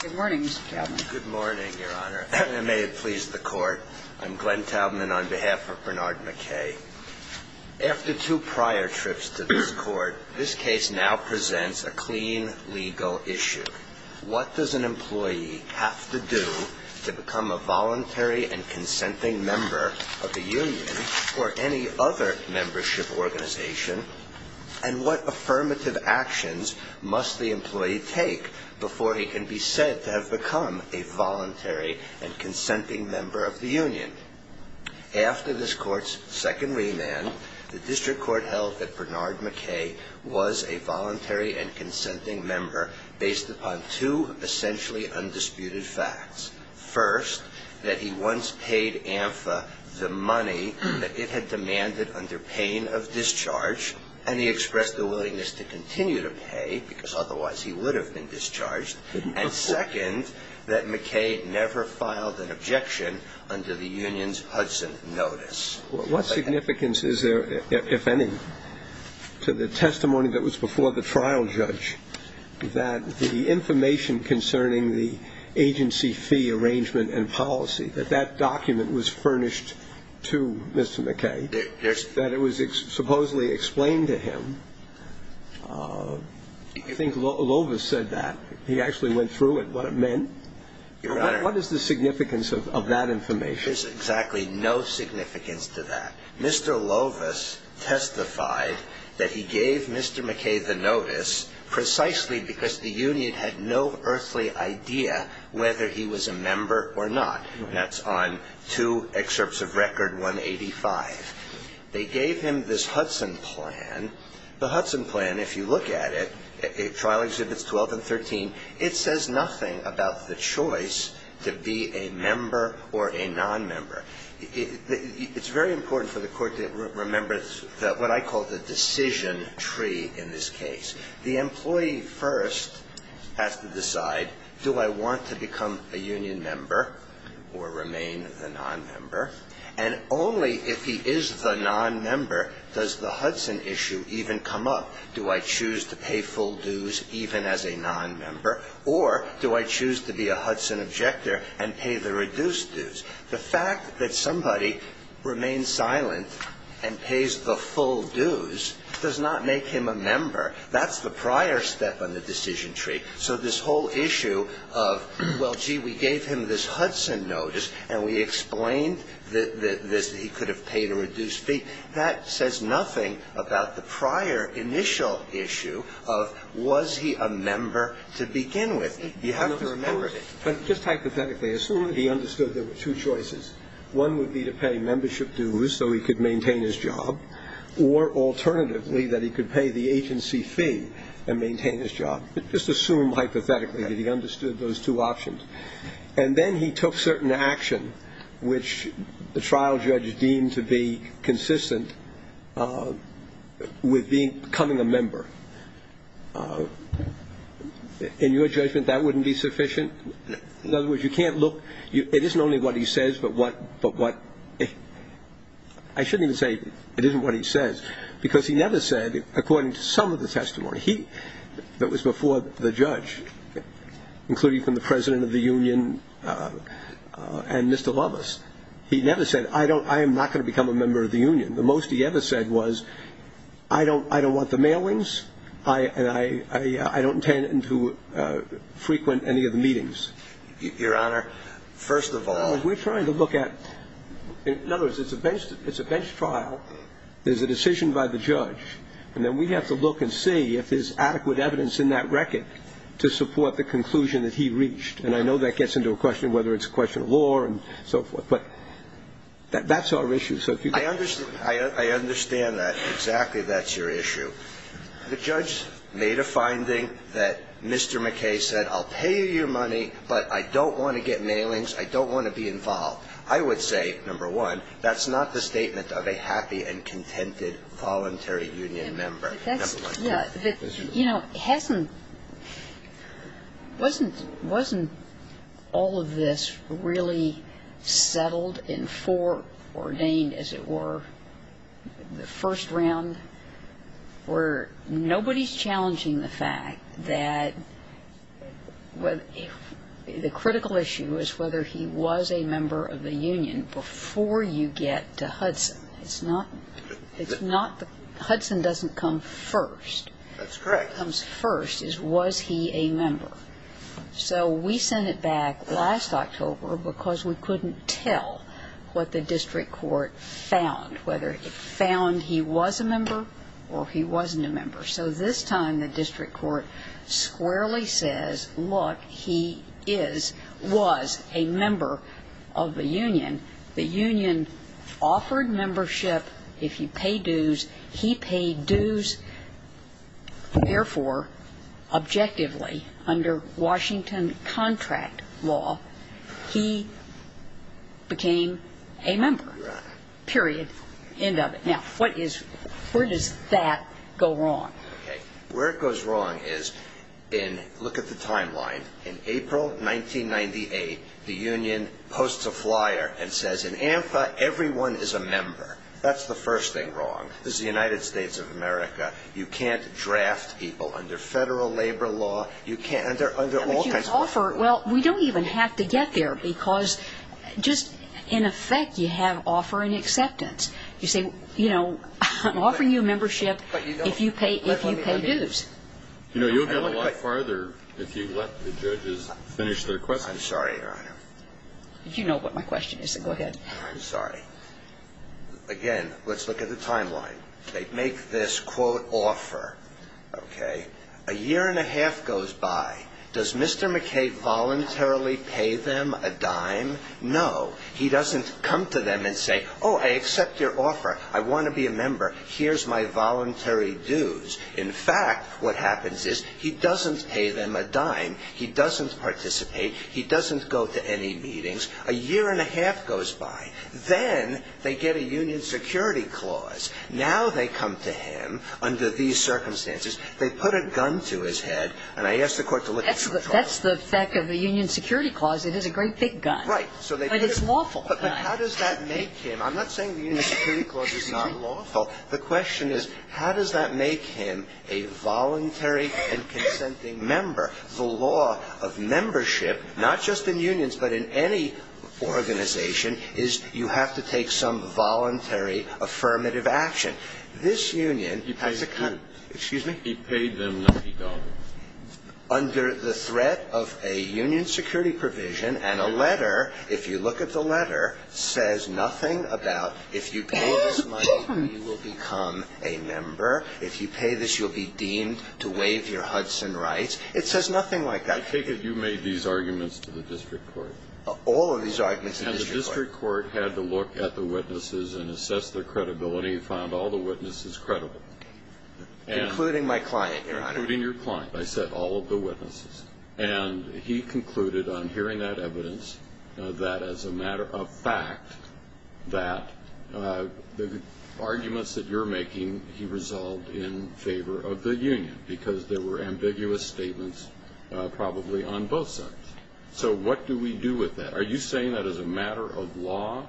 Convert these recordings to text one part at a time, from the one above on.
Good morning, Mr. Taubman. Good morning, Your Honor. And may it please the Court, I'm Glenn Taubman on behalf of Bernard McKay. After two prior trips to this Court, this case now presents a clean legal issue. What does an employee have to do to become a voluntary and consenting member of the union or any other membership organization, and what affirmative actions must the employee take before he can be said to have become a voluntary and consenting member of the union? After this Court's second remand, the District Court held that Bernard McKay was a voluntary and consenting member based upon two essentially undisputed facts. First, that he once paid AMFA the money that it had demanded under pain of discharge, and he expressed a willingness to continue to pay because otherwise he would have been discharged. And second, that McKay never filed an objection under the union's Hudson notice. What significance is there, if any, to the testimony that was before the trial judge that the information concerning the agency fee arrangement and policy, that that document was furnished to Mr. McKay, that it was supposedly explained to him? I think Lovis said that. He actually went through it, what it meant. Your Honor. What is the significance of that information? There's exactly no significance to that. Mr. Lovis testified that he gave Mr. McKay the notice precisely because the union had no earthly idea whether he was a member or not. That's on two excerpts of record 185. They gave him this Hudson plan. The Hudson plan, if you look at it, trial exhibits 12 and 13, it says nothing about the choice to be a member or a nonmember. It's very important for the Court to remember what I call the decision tree in this case. The employee first has to decide, do I want to become a union member or remain the nonmember? And only if he is the nonmember does the Hudson issue even come up. Do I choose to pay full dues even as a nonmember? Or do I choose to be a Hudson objector and pay the reduced dues? The fact that somebody remains silent and pays the full dues does not make him a member. That's the prior step on the decision tree. So this whole issue of, well, gee, we gave him this Hudson notice and we explained that he could have paid a reduced fee, that says nothing about the prior initial issue of was he a member to begin with. You have to remember it. But just hypothetically, assume that he understood there were two choices. One would be to pay membership dues so he could maintain his job, or alternatively, that he could pay the agency fee and maintain his job. Just assume hypothetically that he understood those two options. And then he took certain action which the trial judge deemed to be consistent with becoming a member. In your judgment, that wouldn't be sufficient? In other words, you can't look, it isn't only what he says, but what, but what? I shouldn't even say, it isn't what he says. Because he never said, according to some of the testimony, he, that was before the judge, including from the president of the union and Mr. Lovus. He never said, I am not going to become a member of the union. The most he ever said was, I don't want the mailings, and I don't intend to frequent any of the meetings. Your Honor, first of all. We're trying to look at, in other words, it's a bench trial. There's a decision by the judge. And then we have to look and see if there's adequate evidence in that record to support the conclusion that he reached. And I know that gets into a question of whether it's a question of law and so forth, but that's our issue. So if you can. I understand that exactly that's your issue. The judge made a finding that Mr. McKay said, I'll pay you your money, but I don't want to get mailings. I don't want to be involved. I would say, number one, that's not the statement of a happy and contented voluntary union member. Number one. Yeah, but you know, hasn't, wasn't, wasn't all of this really settled in four, ordained as it were, the first round, where nobody's challenging the fact that the critical issue is whether he was a member of the union before you get to Hudson. It's not, it's not the, Hudson doesn't come first. That's correct. Comes first, is was he a member? So we sent it back last October because we couldn't tell what the district court found, whether it found he was a member or he wasn't a member. So this time the district court squarely says, look, he is, was a member of the union, the union offered membership. If you pay dues, he paid dues. Therefore, objectively under Washington contract law, he became a member, period, end of it. Now, what is, where does that go wrong? Okay, where it goes wrong is in, look at the timeline. In April 1998, the union posts a flyer and says, in ANFA, everyone is a member. That's the first thing wrong. This is the United States of America. You can't draft people under federal labor law. You can't, and there are all kinds of. Well, we don't even have to get there because just, in effect, you have offer and acceptance. You say, you know, I'm offering you membership if you pay, if you pay dues. You know, you'll get a lot farther if you let the judges finish their questions. I'm sorry, Your Honor. You know what my question is, so go ahead. I'm sorry. Again, let's look at the timeline. They make this, quote, offer, okay? A year and a half goes by. Does Mr. McKay voluntarily pay them a dime? No. He doesn't come to them and say, oh, I accept your offer. I want to be a member. Here's my voluntary dues. In fact, what happens is, he doesn't pay them a dime. He doesn't participate. He doesn't go to any meetings. A year and a half goes by. Then, they get a union security clause. Now they come to him under these circumstances. They put a gun to his head, and I asked the court to look at. That's the fact of the union security clause. It is a great big gun, but it's lawful. But how does that make him? I'm not saying the union security clause is not lawful. The question is, how does that make him a voluntary and consenting member? The law of membership, not just in unions, but in any organization, is you have to take some voluntary affirmative action. This union has a kind of, excuse me? He paid them lucky dollars. Under the threat of a union security provision and a letter, if you look at the letter, says nothing about, if you pay this money, you will become a member. If you pay this, you'll be deemed to waive your Hudson rights. It says nothing like that. I take it you made these arguments to the district court. All of these arguments to the district court. And the district court had to look at the witnesses and assess their credibility and found all the witnesses credible. Including my client, Your Honor. Including your client. I said all of the witnesses. And he concluded on hearing that evidence that as a matter of fact, that the arguments that you're making, he resolved in favor of the union. Because there were ambiguous statements probably on both sides. So what do we do with that? Are you saying that as a matter of law,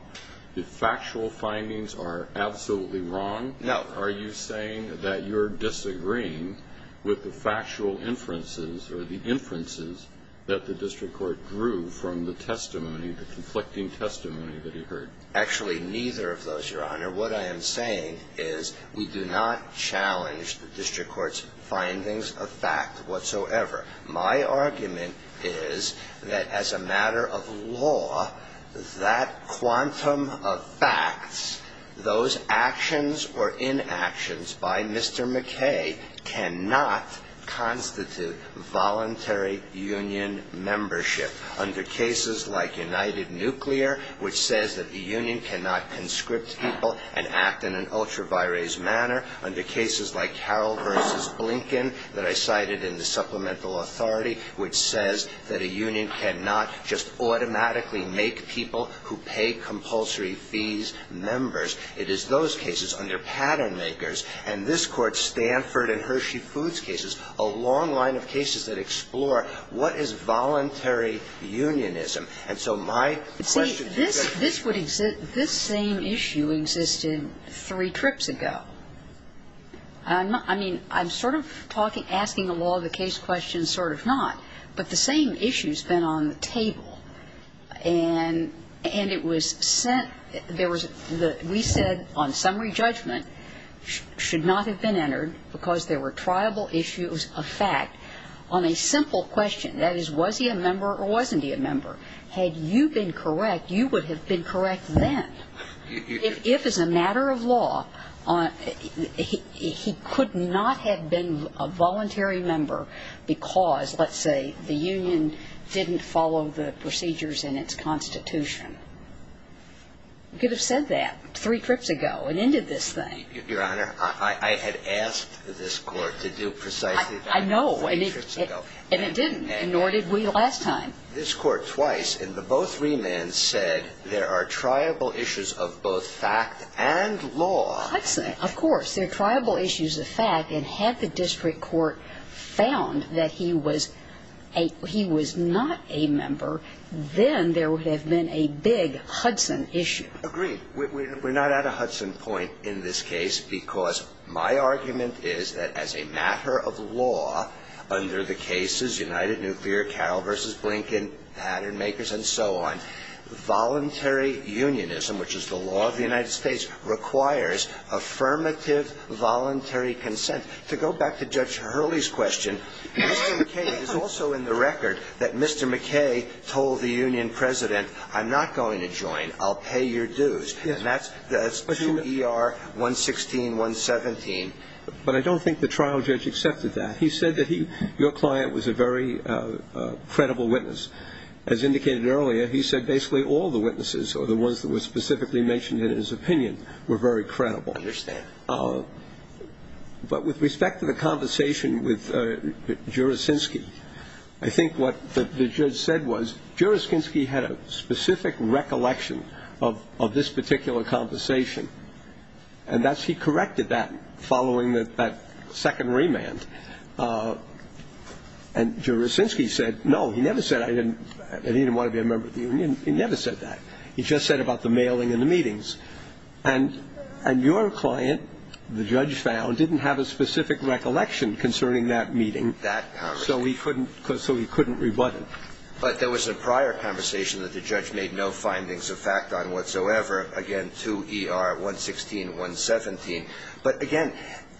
the factual findings are absolutely wrong? No. Are you saying that you're disagreeing with the factual inferences or the inferences that the district court drew from the testimony, the conflicting testimony that he heard? Actually, neither of those, Your Honor. What I am saying is we do not challenge the district court's findings of fact whatsoever. My argument is that as a matter of law, that quantum of facts, those actions or inactions by Mr. McKay cannot constitute voluntary union membership. Under cases like United Nuclear, which says that the union cannot conscript people and act in an ultra-virase manner. Under cases like Carroll versus Blinken that I cited in the supplemental authority, which says that a union cannot just automatically make people who pay compulsory fees members. It is those cases under pattern makers. And this Court's Stanford and Hershey Foods cases, a long line of cases that explore what is voluntary unionism. And so my question to the district court is. This same issue existed three trips ago. I mean, I'm sort of talking, asking a law of the case question, sort of not. But the same issue's been on the table. And it was sent, there was, we said on summary judgment, should not have been entered because there were triable issues of fact on a simple question. That is, was he a member or wasn't he a member? Had you been correct, you would have been correct then. If as a matter of law, he could not have been a voluntary member because, let's say, the union didn't follow the procedures in its constitution. You could have said that three trips ago and ended this thing. Your Honor, I had asked this Court to do precisely that three trips ago. I know, and it didn't, nor did we last time. This Court twice in the both remands said there are triable issues of both fact and law. I'd say, of course, there are triable issues of fact. And had the District Court found that he was a, he was not a member, then there would have been a big Hudson issue. Agreed. We're not at a Hudson point in this case because my argument is that as a matter of law under the cases United Nuclear, Carroll v. Blinken, Pattern Makers, and so on, voluntary unionism, which is the law of the United States, requires affirmative voluntary consent. To go back to Judge Hurley's question, Mr. McKay is also in the record that Mr. McKay told the union president, I'm not going to join. I'll pay your dues. And that's 2 ER 116, 117. But I don't think the trial judge accepted that. He said that he, your client was a very credible witness. As indicated earlier, he said basically all the witnesses or the ones that were specifically mentioned in his opinion were very credible. I understand. But with respect to the conversation with Juricinski, I think what the judge said was, Juricinski had a specific recollection of this particular conversation. And that's, he corrected that following that second remand. And Juricinski said, no, he never said I didn't, that he didn't want to be a member of the union. He never said that. He just said about the mailing and the meetings. And your client, the judge found, didn't have a specific recollection concerning that meeting, so he couldn't rebut it. But there was a prior conversation that the judge made no findings of fact on whatsoever. Again, 2 ER 116, 117. But again,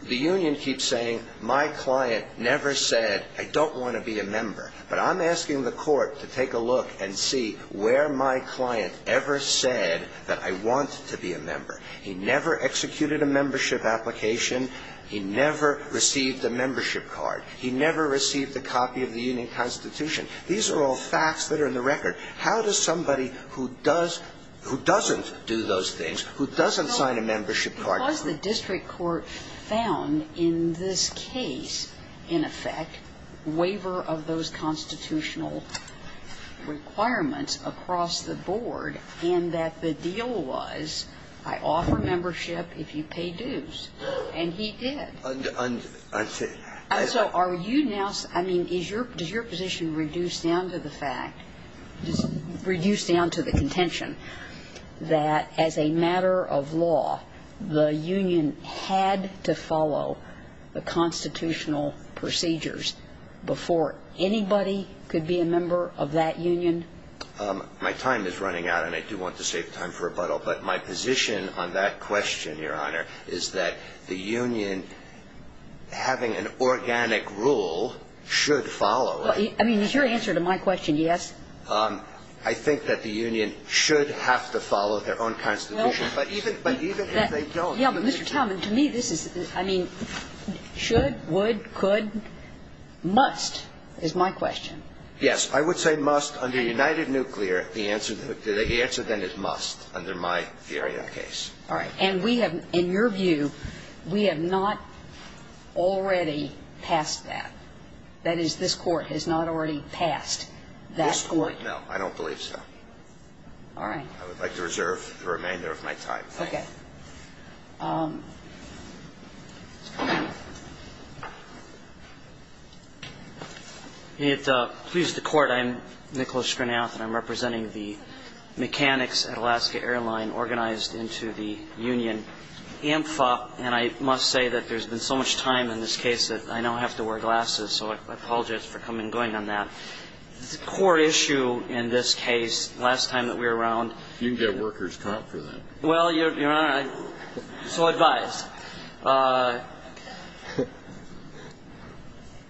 the union keeps saying, my client never said, I don't want to be a member. But I'm asking the court to take a look and see where my client ever said that I want to be a member. He never executed a membership application. He never received a membership card. He never received a copy of the union constitution. These are all facts that are in the record. How does somebody who does, who doesn't do those things, who doesn't sign a membership card? Because the district court found in this case, in effect, waiver of those constitutional requirements across the board. And that the deal was, I offer membership if you pay dues. And he did. And so are you now, I mean, is your, does your position reduce down to the fact, reduce down to the contention that as a matter of law, the union had to follow the constitutional procedures before anybody could be a member of that union? My time is running out, and I do want to save time for rebuttal. But my position on that question, Your Honor, is that the union having an organic rule should follow, right? I mean, is your answer to my question yes? I think that the union should have to follow their own constitution. But even, but even if they don't. Yeah, Mr. Talman, to me this is, I mean, should, would, could, must is my question. Yes, I would say must under United Nuclear. The answer, the answer then is must under my theory of the case. All right. And we have, in your view, we have not already passed that. That is, this court has not already passed that court. I don't believe so. All right. I would like to reserve the remainder of my time. Okay. It pleases the court. I'm Nicholas Schrenath, and I'm representing the mechanics at Alaska Airline organized into the union. And I must say that there's been so much time in this case that I now have to wear glasses. So I apologize for coming and going on that. The core issue in this case, last time that we were around. You can get a worker's comp for that. Well, Your Honor, I'm so advised.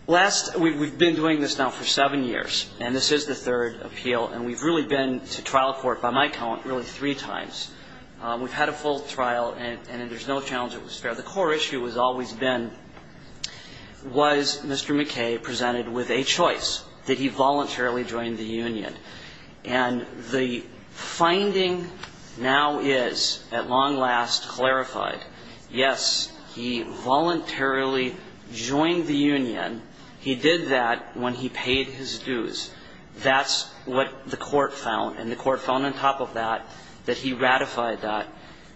Last, we've been doing this now for seven years. And this is the third appeal. And we've really been to trial court, by my count, really three times. We've had a full trial, and there's no challenge it was fair. The core issue has always been, was Mr. McKay presented with a choice? Did he voluntarily join the union? And the finding now is, at long last, clarified. Yes, he voluntarily joined the union. He did that when he paid his dues. That's what the court found. And the court found on top of that, that he ratified that.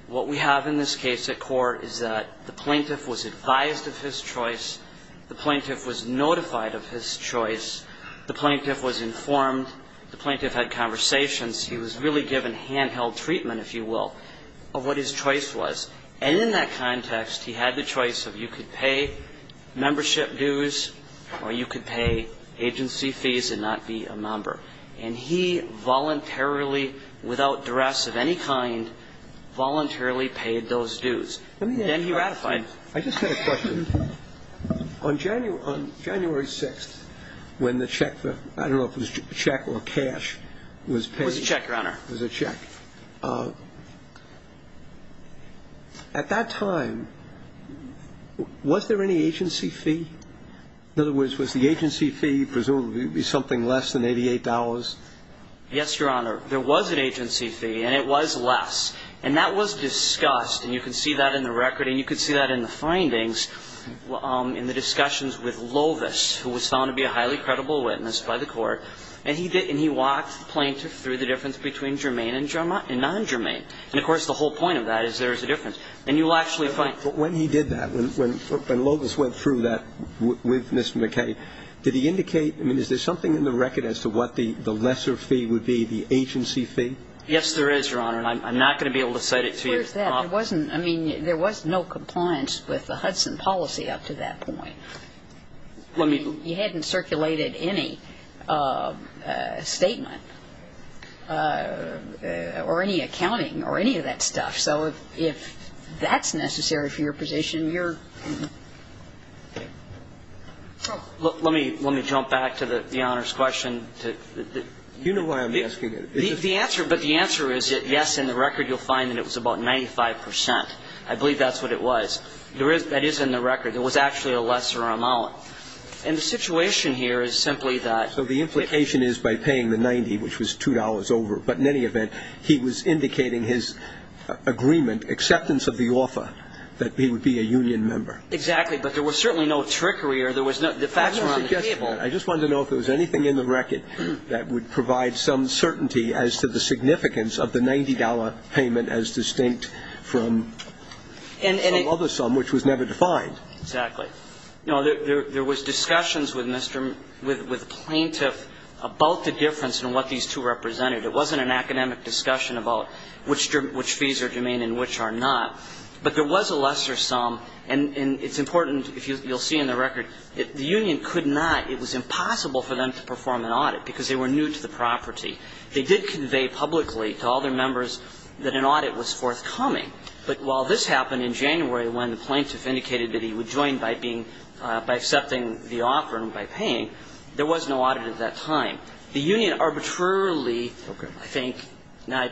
What we have in this case at court is that the plaintiff was advised of his choice. The plaintiff was notified of his choice. The plaintiff was informed. The plaintiff had conversations. He was really given handheld treatment, if you will, of what his choice was. And in that context, he had the choice of you could pay membership dues, or you could pay agency fees and not be a member. And he voluntarily, without duress of any kind, voluntarily paid those dues. Then he ratified. I just had a question. On January 6th, when the check, I don't know if it was a check or cash, was paid. It was a check, Your Honor. It was a check. At that time, was there any agency fee? In other words, was the agency fee presumably something less than $88? Yes, Your Honor. There was an agency fee, and it was less. And that was discussed, and you can see that in the record. And you can see that in the findings in the discussions with Lovis, who was found to be a highly credible witness by the court. And he walked the plaintiff through the difference between germane and non-germane. And of course, the whole point of that is there is a difference. And you will actually find. But when he did that, when Lovis went through that with Ms. McKay, did he indicate? I mean, is there something in the record as to what the lesser fee would be, the agency fee? Yes, there is, Your Honor. And I'm not going to be able to cite it to you. Where is that? There wasn't, I mean, there was no compliance with the Hudson policy up to that point. I mean, you hadn't circulated any statement or any accounting or any of that stuff. So if that's necessary for your position, you're. Let me jump back to the Honor's question. You know why I'm asking it. The answer, but the answer is yes, in the record you'll find that it was about 95 percent. I believe that's what it was. There is, that is in the record. There was actually a lesser amount. And the situation here is simply that. So the implication is by paying the 90, which was $2 over. But in any event, he was indicating his agreement, acceptance of the offer, that he would be a union member. Exactly. But there was certainly no trickery or there was no, the facts were on the table. I just wanted to know if there was anything in the record that would provide some certainty as to the significance of the $90 payment as distinct from some other sum, which was never defined. Exactly. You know, there was discussions with Mr., with plaintiff about the difference in what these two represented. It wasn't an academic discussion about which fees are germane and which are not. But there was a lesser sum, and it's important, you'll see in the record, the union could not, it was impossible for them to perform an audit because they were new to the property. They did convey publicly to all their members that an audit was forthcoming. But while this happened in January when the plaintiff indicated that he would join by being, by accepting the offer and by paying, there was no audit at that time. The union arbitrarily, I think, not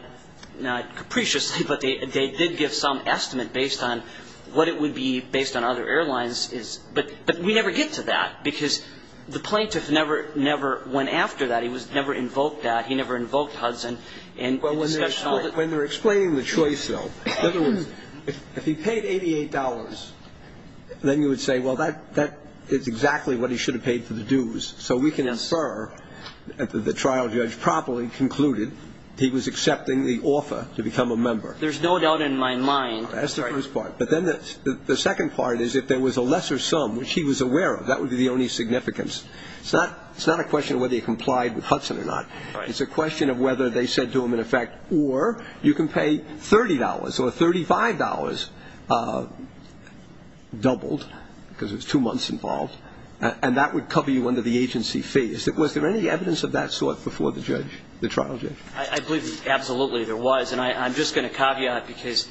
capriciously, but they did give some estimate based on what it would be based on other airlines, but we never get to that because the plaintiff never, never went after that. He was never invoked at, he never invoked Hudson in discussion of it. When they're explaining the choice, though, in other words, if he paid $88, then you would say, well, that is exactly what he should have paid for the dues. So we can infer that the trial judge properly concluded he was accepting the offer to become a member. There's no doubt in my mind. That's the first part. But then the second part is if there was a lesser sum, which he was aware of, that would be the only significance. It's not a question of whether he complied with Hudson or not. It's a question of whether they said to him, in effect, or you can pay $30 or $35 doubled because it was two months involved. And that would cover you under the agency fee. Was there any evidence of that sort before the judge, the trial judge? I believe absolutely there was. And I'm just going to caveat because,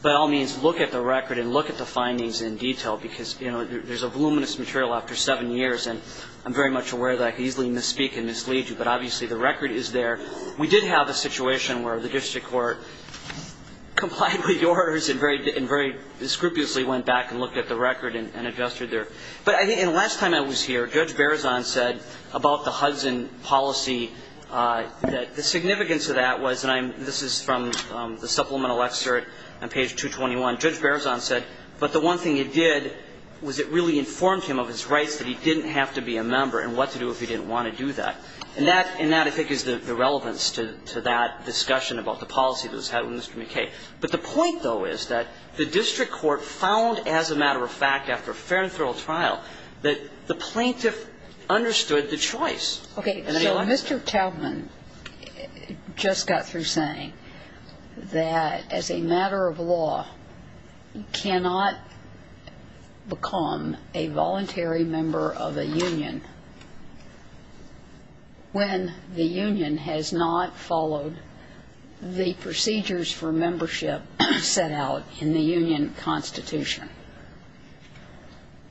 by all means, look at the record and look at the findings in detail because there's a voluminous material after seven years. And I'm very much aware that I could easily misspeak and mislead you. But obviously, the record is there. We did have a situation where the district court complied with the orders and very, very scrupulously went back and looked at the record and adjusted their. But I think, and last time I was here, Judge Berzon said about the Hudson policy that the significance of that was, and this is from the supplemental excerpt on page 221. Judge Berzon said, but the one thing it did was it really informed him of his rights that he didn't have to be a member and what to do if he didn't want to do that. And that, I think, is the relevance to that discussion about the policy that was had with Mr. McKay. But the point, though, is that the district court found, as a matter of fact, after a fair and thorough trial, that the plaintiff understood the choice. And I think that's the point. I'm just wondering, for example, when the Union has not followed the procedures for membership set out in the Union constitution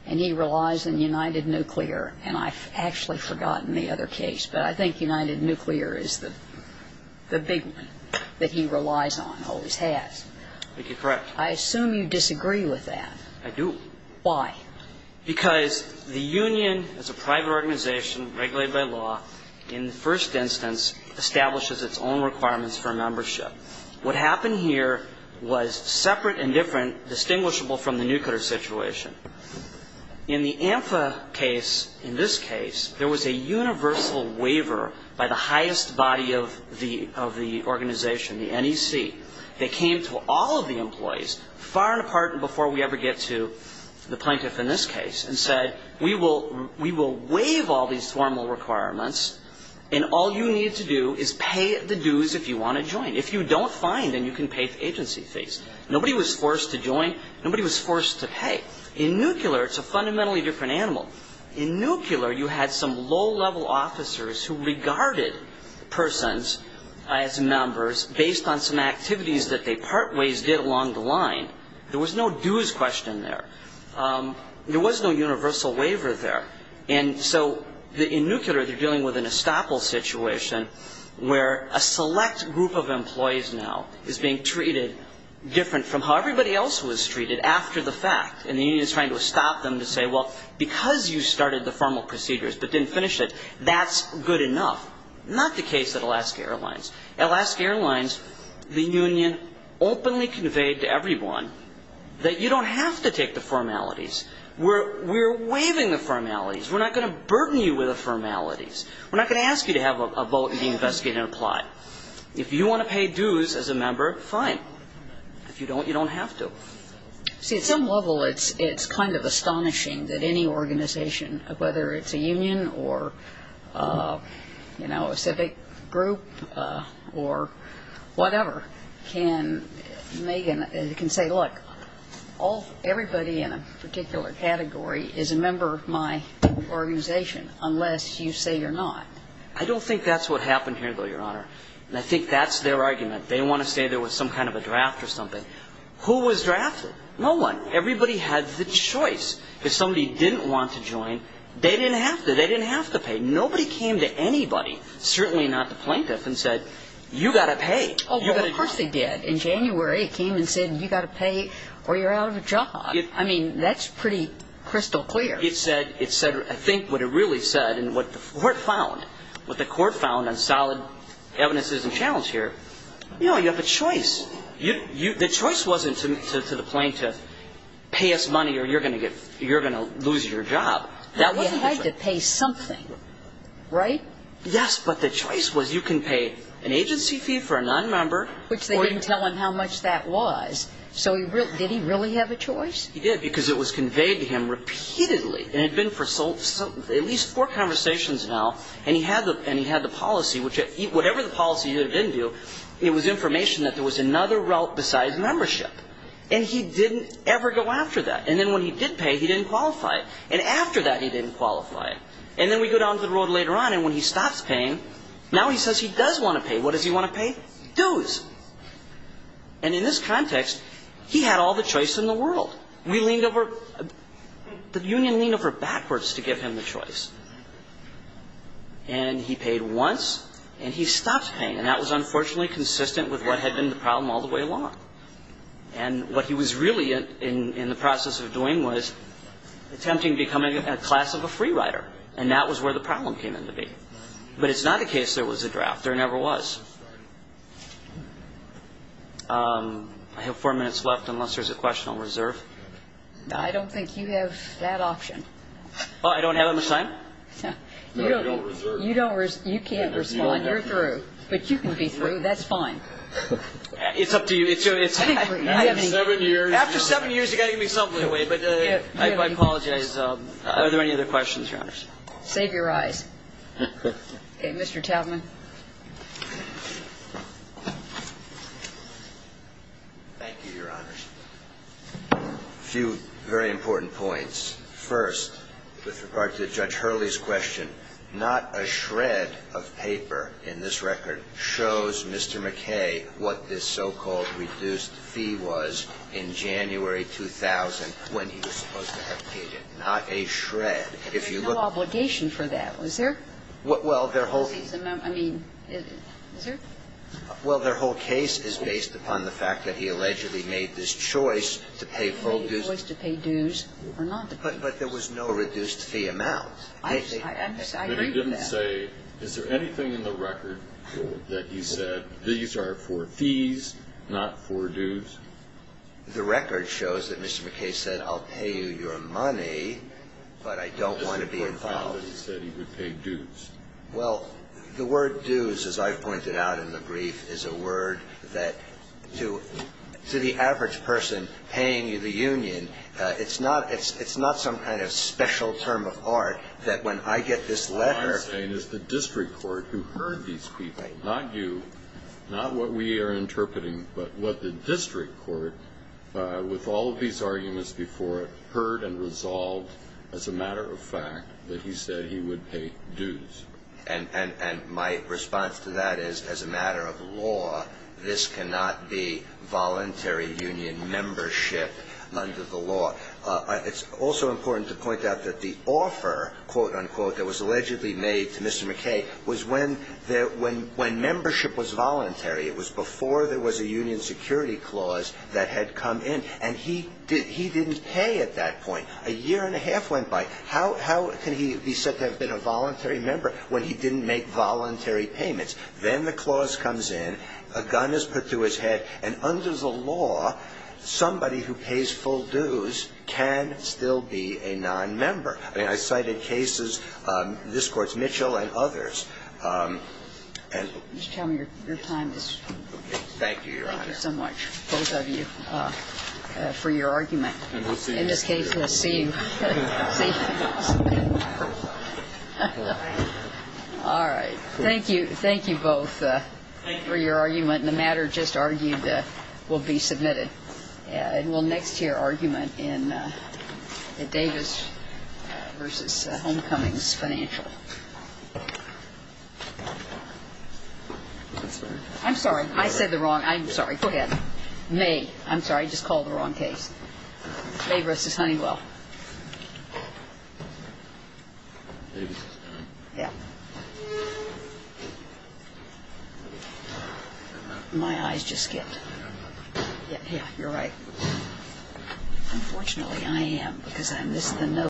and he relies on United Nuclear, and I've actually forgotten the other case, but I think United Nuclear is the big one that he relies on, always has. I think you're correct. I assume you disagree with that. I do. Why? Because the Union is a private organization regulated by law. In the first instance, establishes its own requirements for membership. What happened here was separate and different, distinguishable from the nuclear situation. In the AMFA case, in this case, there was a universal waiver by the highest body of the organization, the NEC. They came to all of the employees, far and apart and before we ever get to the plaintiff in this case, and said, we will waive all these formal requirements and all you need to do is pay the dues if you want to join. If you don't, fine, then you can pay the agency fees. Nobody was forced to join. Nobody was forced to pay. In nuclear, it's a fundamentally different animal. In nuclear, you had some low-level officers who regarded persons as members based on some activities that they part ways did along the line. There was no dues question there. There was no universal waiver there. And so in nuclear, they're dealing with an estoppel situation where a select group of employees now is being treated different from how everybody else was treated after the fact. And the union is trying to stop them to say, well, because you started the formal procedures but didn't finish it, that's good enough. Not the case at Alaska Airlines. At Alaska Airlines, the union openly conveyed to everyone that you don't have to take the formalities. We're waiving the formalities. We're not going to burden you with the formalities. We're not going to ask you to have a vote and be investigated and applied. If you want to pay dues as a member, fine. If you don't, you don't have to. See, at some level, it's kind of astonishing that any organization, whether it's a union or a civic group or whatever, can say, look, everybody in a particular category is a member of my organization unless you say you're not. I don't think that's what happened here, though, Your Honor. And I think that's their argument. They want to say there was some kind of a draft or something. Who was drafted? No one. Everybody had the choice. If somebody didn't want to join, they didn't have to. They didn't have to pay. Nobody came to anybody, certainly not the plaintiff, and said, you got to pay. Oh, well, of course they did. In January, it came and said, you got to pay or you're out of a job. I mean, that's pretty crystal clear. It said, I think what it really said and what the court found on solid evidences and challenge here, you know, you have a choice. The choice wasn't to the plaintiff, pay us money or you're going to lose your job. He had to pay something, right? Yes, but the choice was you can pay an agency fee for a nonmember. Which they didn't tell him how much that was. So did he really have a choice? He did, because it was conveyed to him repeatedly. And it had been for at least four conversations now. And he had the policy, which whatever the policy had been due, it was information that there was another route besides membership. And he didn't ever go after that. And then when he did pay, he didn't qualify. And after that, he didn't qualify. And then we go down the road later on, and when he stops paying, now he says he does want to pay. What does he want to pay? Dues. And in this context, he had all the choice in the world. We leaned over, the union leaned over backwards to give him the choice. And he paid once, and he stopped paying. And that was unfortunately consistent with what had been the problem all the way along. And what he was really in the process of doing was attempting to become a class of a free rider. And that was where the problem came into being. But it's not the case there was a draft. There never was. I have four minutes left, unless there's a question I'll reserve. I don't think you have that option. Oh, I don't have that much time? No, you don't reserve it. You can't respond. You're through. But you can be through. That's fine. It's up to you. It's up to you. After seven years, you've got to give me something, but I apologize. Are there any other questions, Your Honors? Save your eyes. Okay. Mr. Taubman. Thank you, Your Honors. A few very important points. First, with regard to Judge Hurley's question, not a shred of paper in this record shows Mr. McKay what this so-called reduced fee was in January 2000 when he was supposed to have paid it, not a shred. If you look at the case, there's no obligation for that, is there? Well, their whole case is based upon the fact that he allegedly made this choice to pay full dues. He made a choice to pay dues or not to pay dues. But there was no reduced fee amount. I agree with that. But he didn't say, is there anything in the record that he said, these are for fees, not for dues? The record shows that Mr. McKay said, I'll pay you your money, but I don't want to be involved. He said he would pay dues. Well, the word dues, as I've pointed out in the brief, is a word that to the average person paying you the union, it's not some kind of special term of art that when I get this letter... All I'm saying is the district court who heard these people, not you, not what we are interpreting, but what the district court, with all of these arguments before it, heard and resolved as a matter of fact that he said he would pay dues. And my response to that is, as a matter of law, this cannot be voluntary union membership under the law. It's also important to point out that the offer, quote-unquote, that was allegedly made to Mr. McKay was when membership was voluntary. It was before there was a union security clause that had come in, and he didn't pay at that point. A year and a half went by. How can he be said to have been a voluntary member when he didn't make voluntary payments? Then the clause comes in, a gun is put to his head, and under the law, somebody who pays full dues can still be a nonmember. I cited cases, this Court's Mitchell and others, and... Just tell me your time is... Thank you, Your Honor. Thank you so much, both of you, for your argument. And we'll see you in court. In case we'll see you. All right. Thank you. Thank you both for your argument, and the matter just argued will be submitted. And we'll next hear argument in Davis v. Homecomings, Financial. I'm sorry, I said the wrong... I'm sorry, go ahead. May. I'm sorry, I just called the wrong case. Davis v. Honeywell. Davis v. Honeywell? Yeah. My eyes just skipped. Yeah, you're right. Unfortunately, I am, because I missed the note.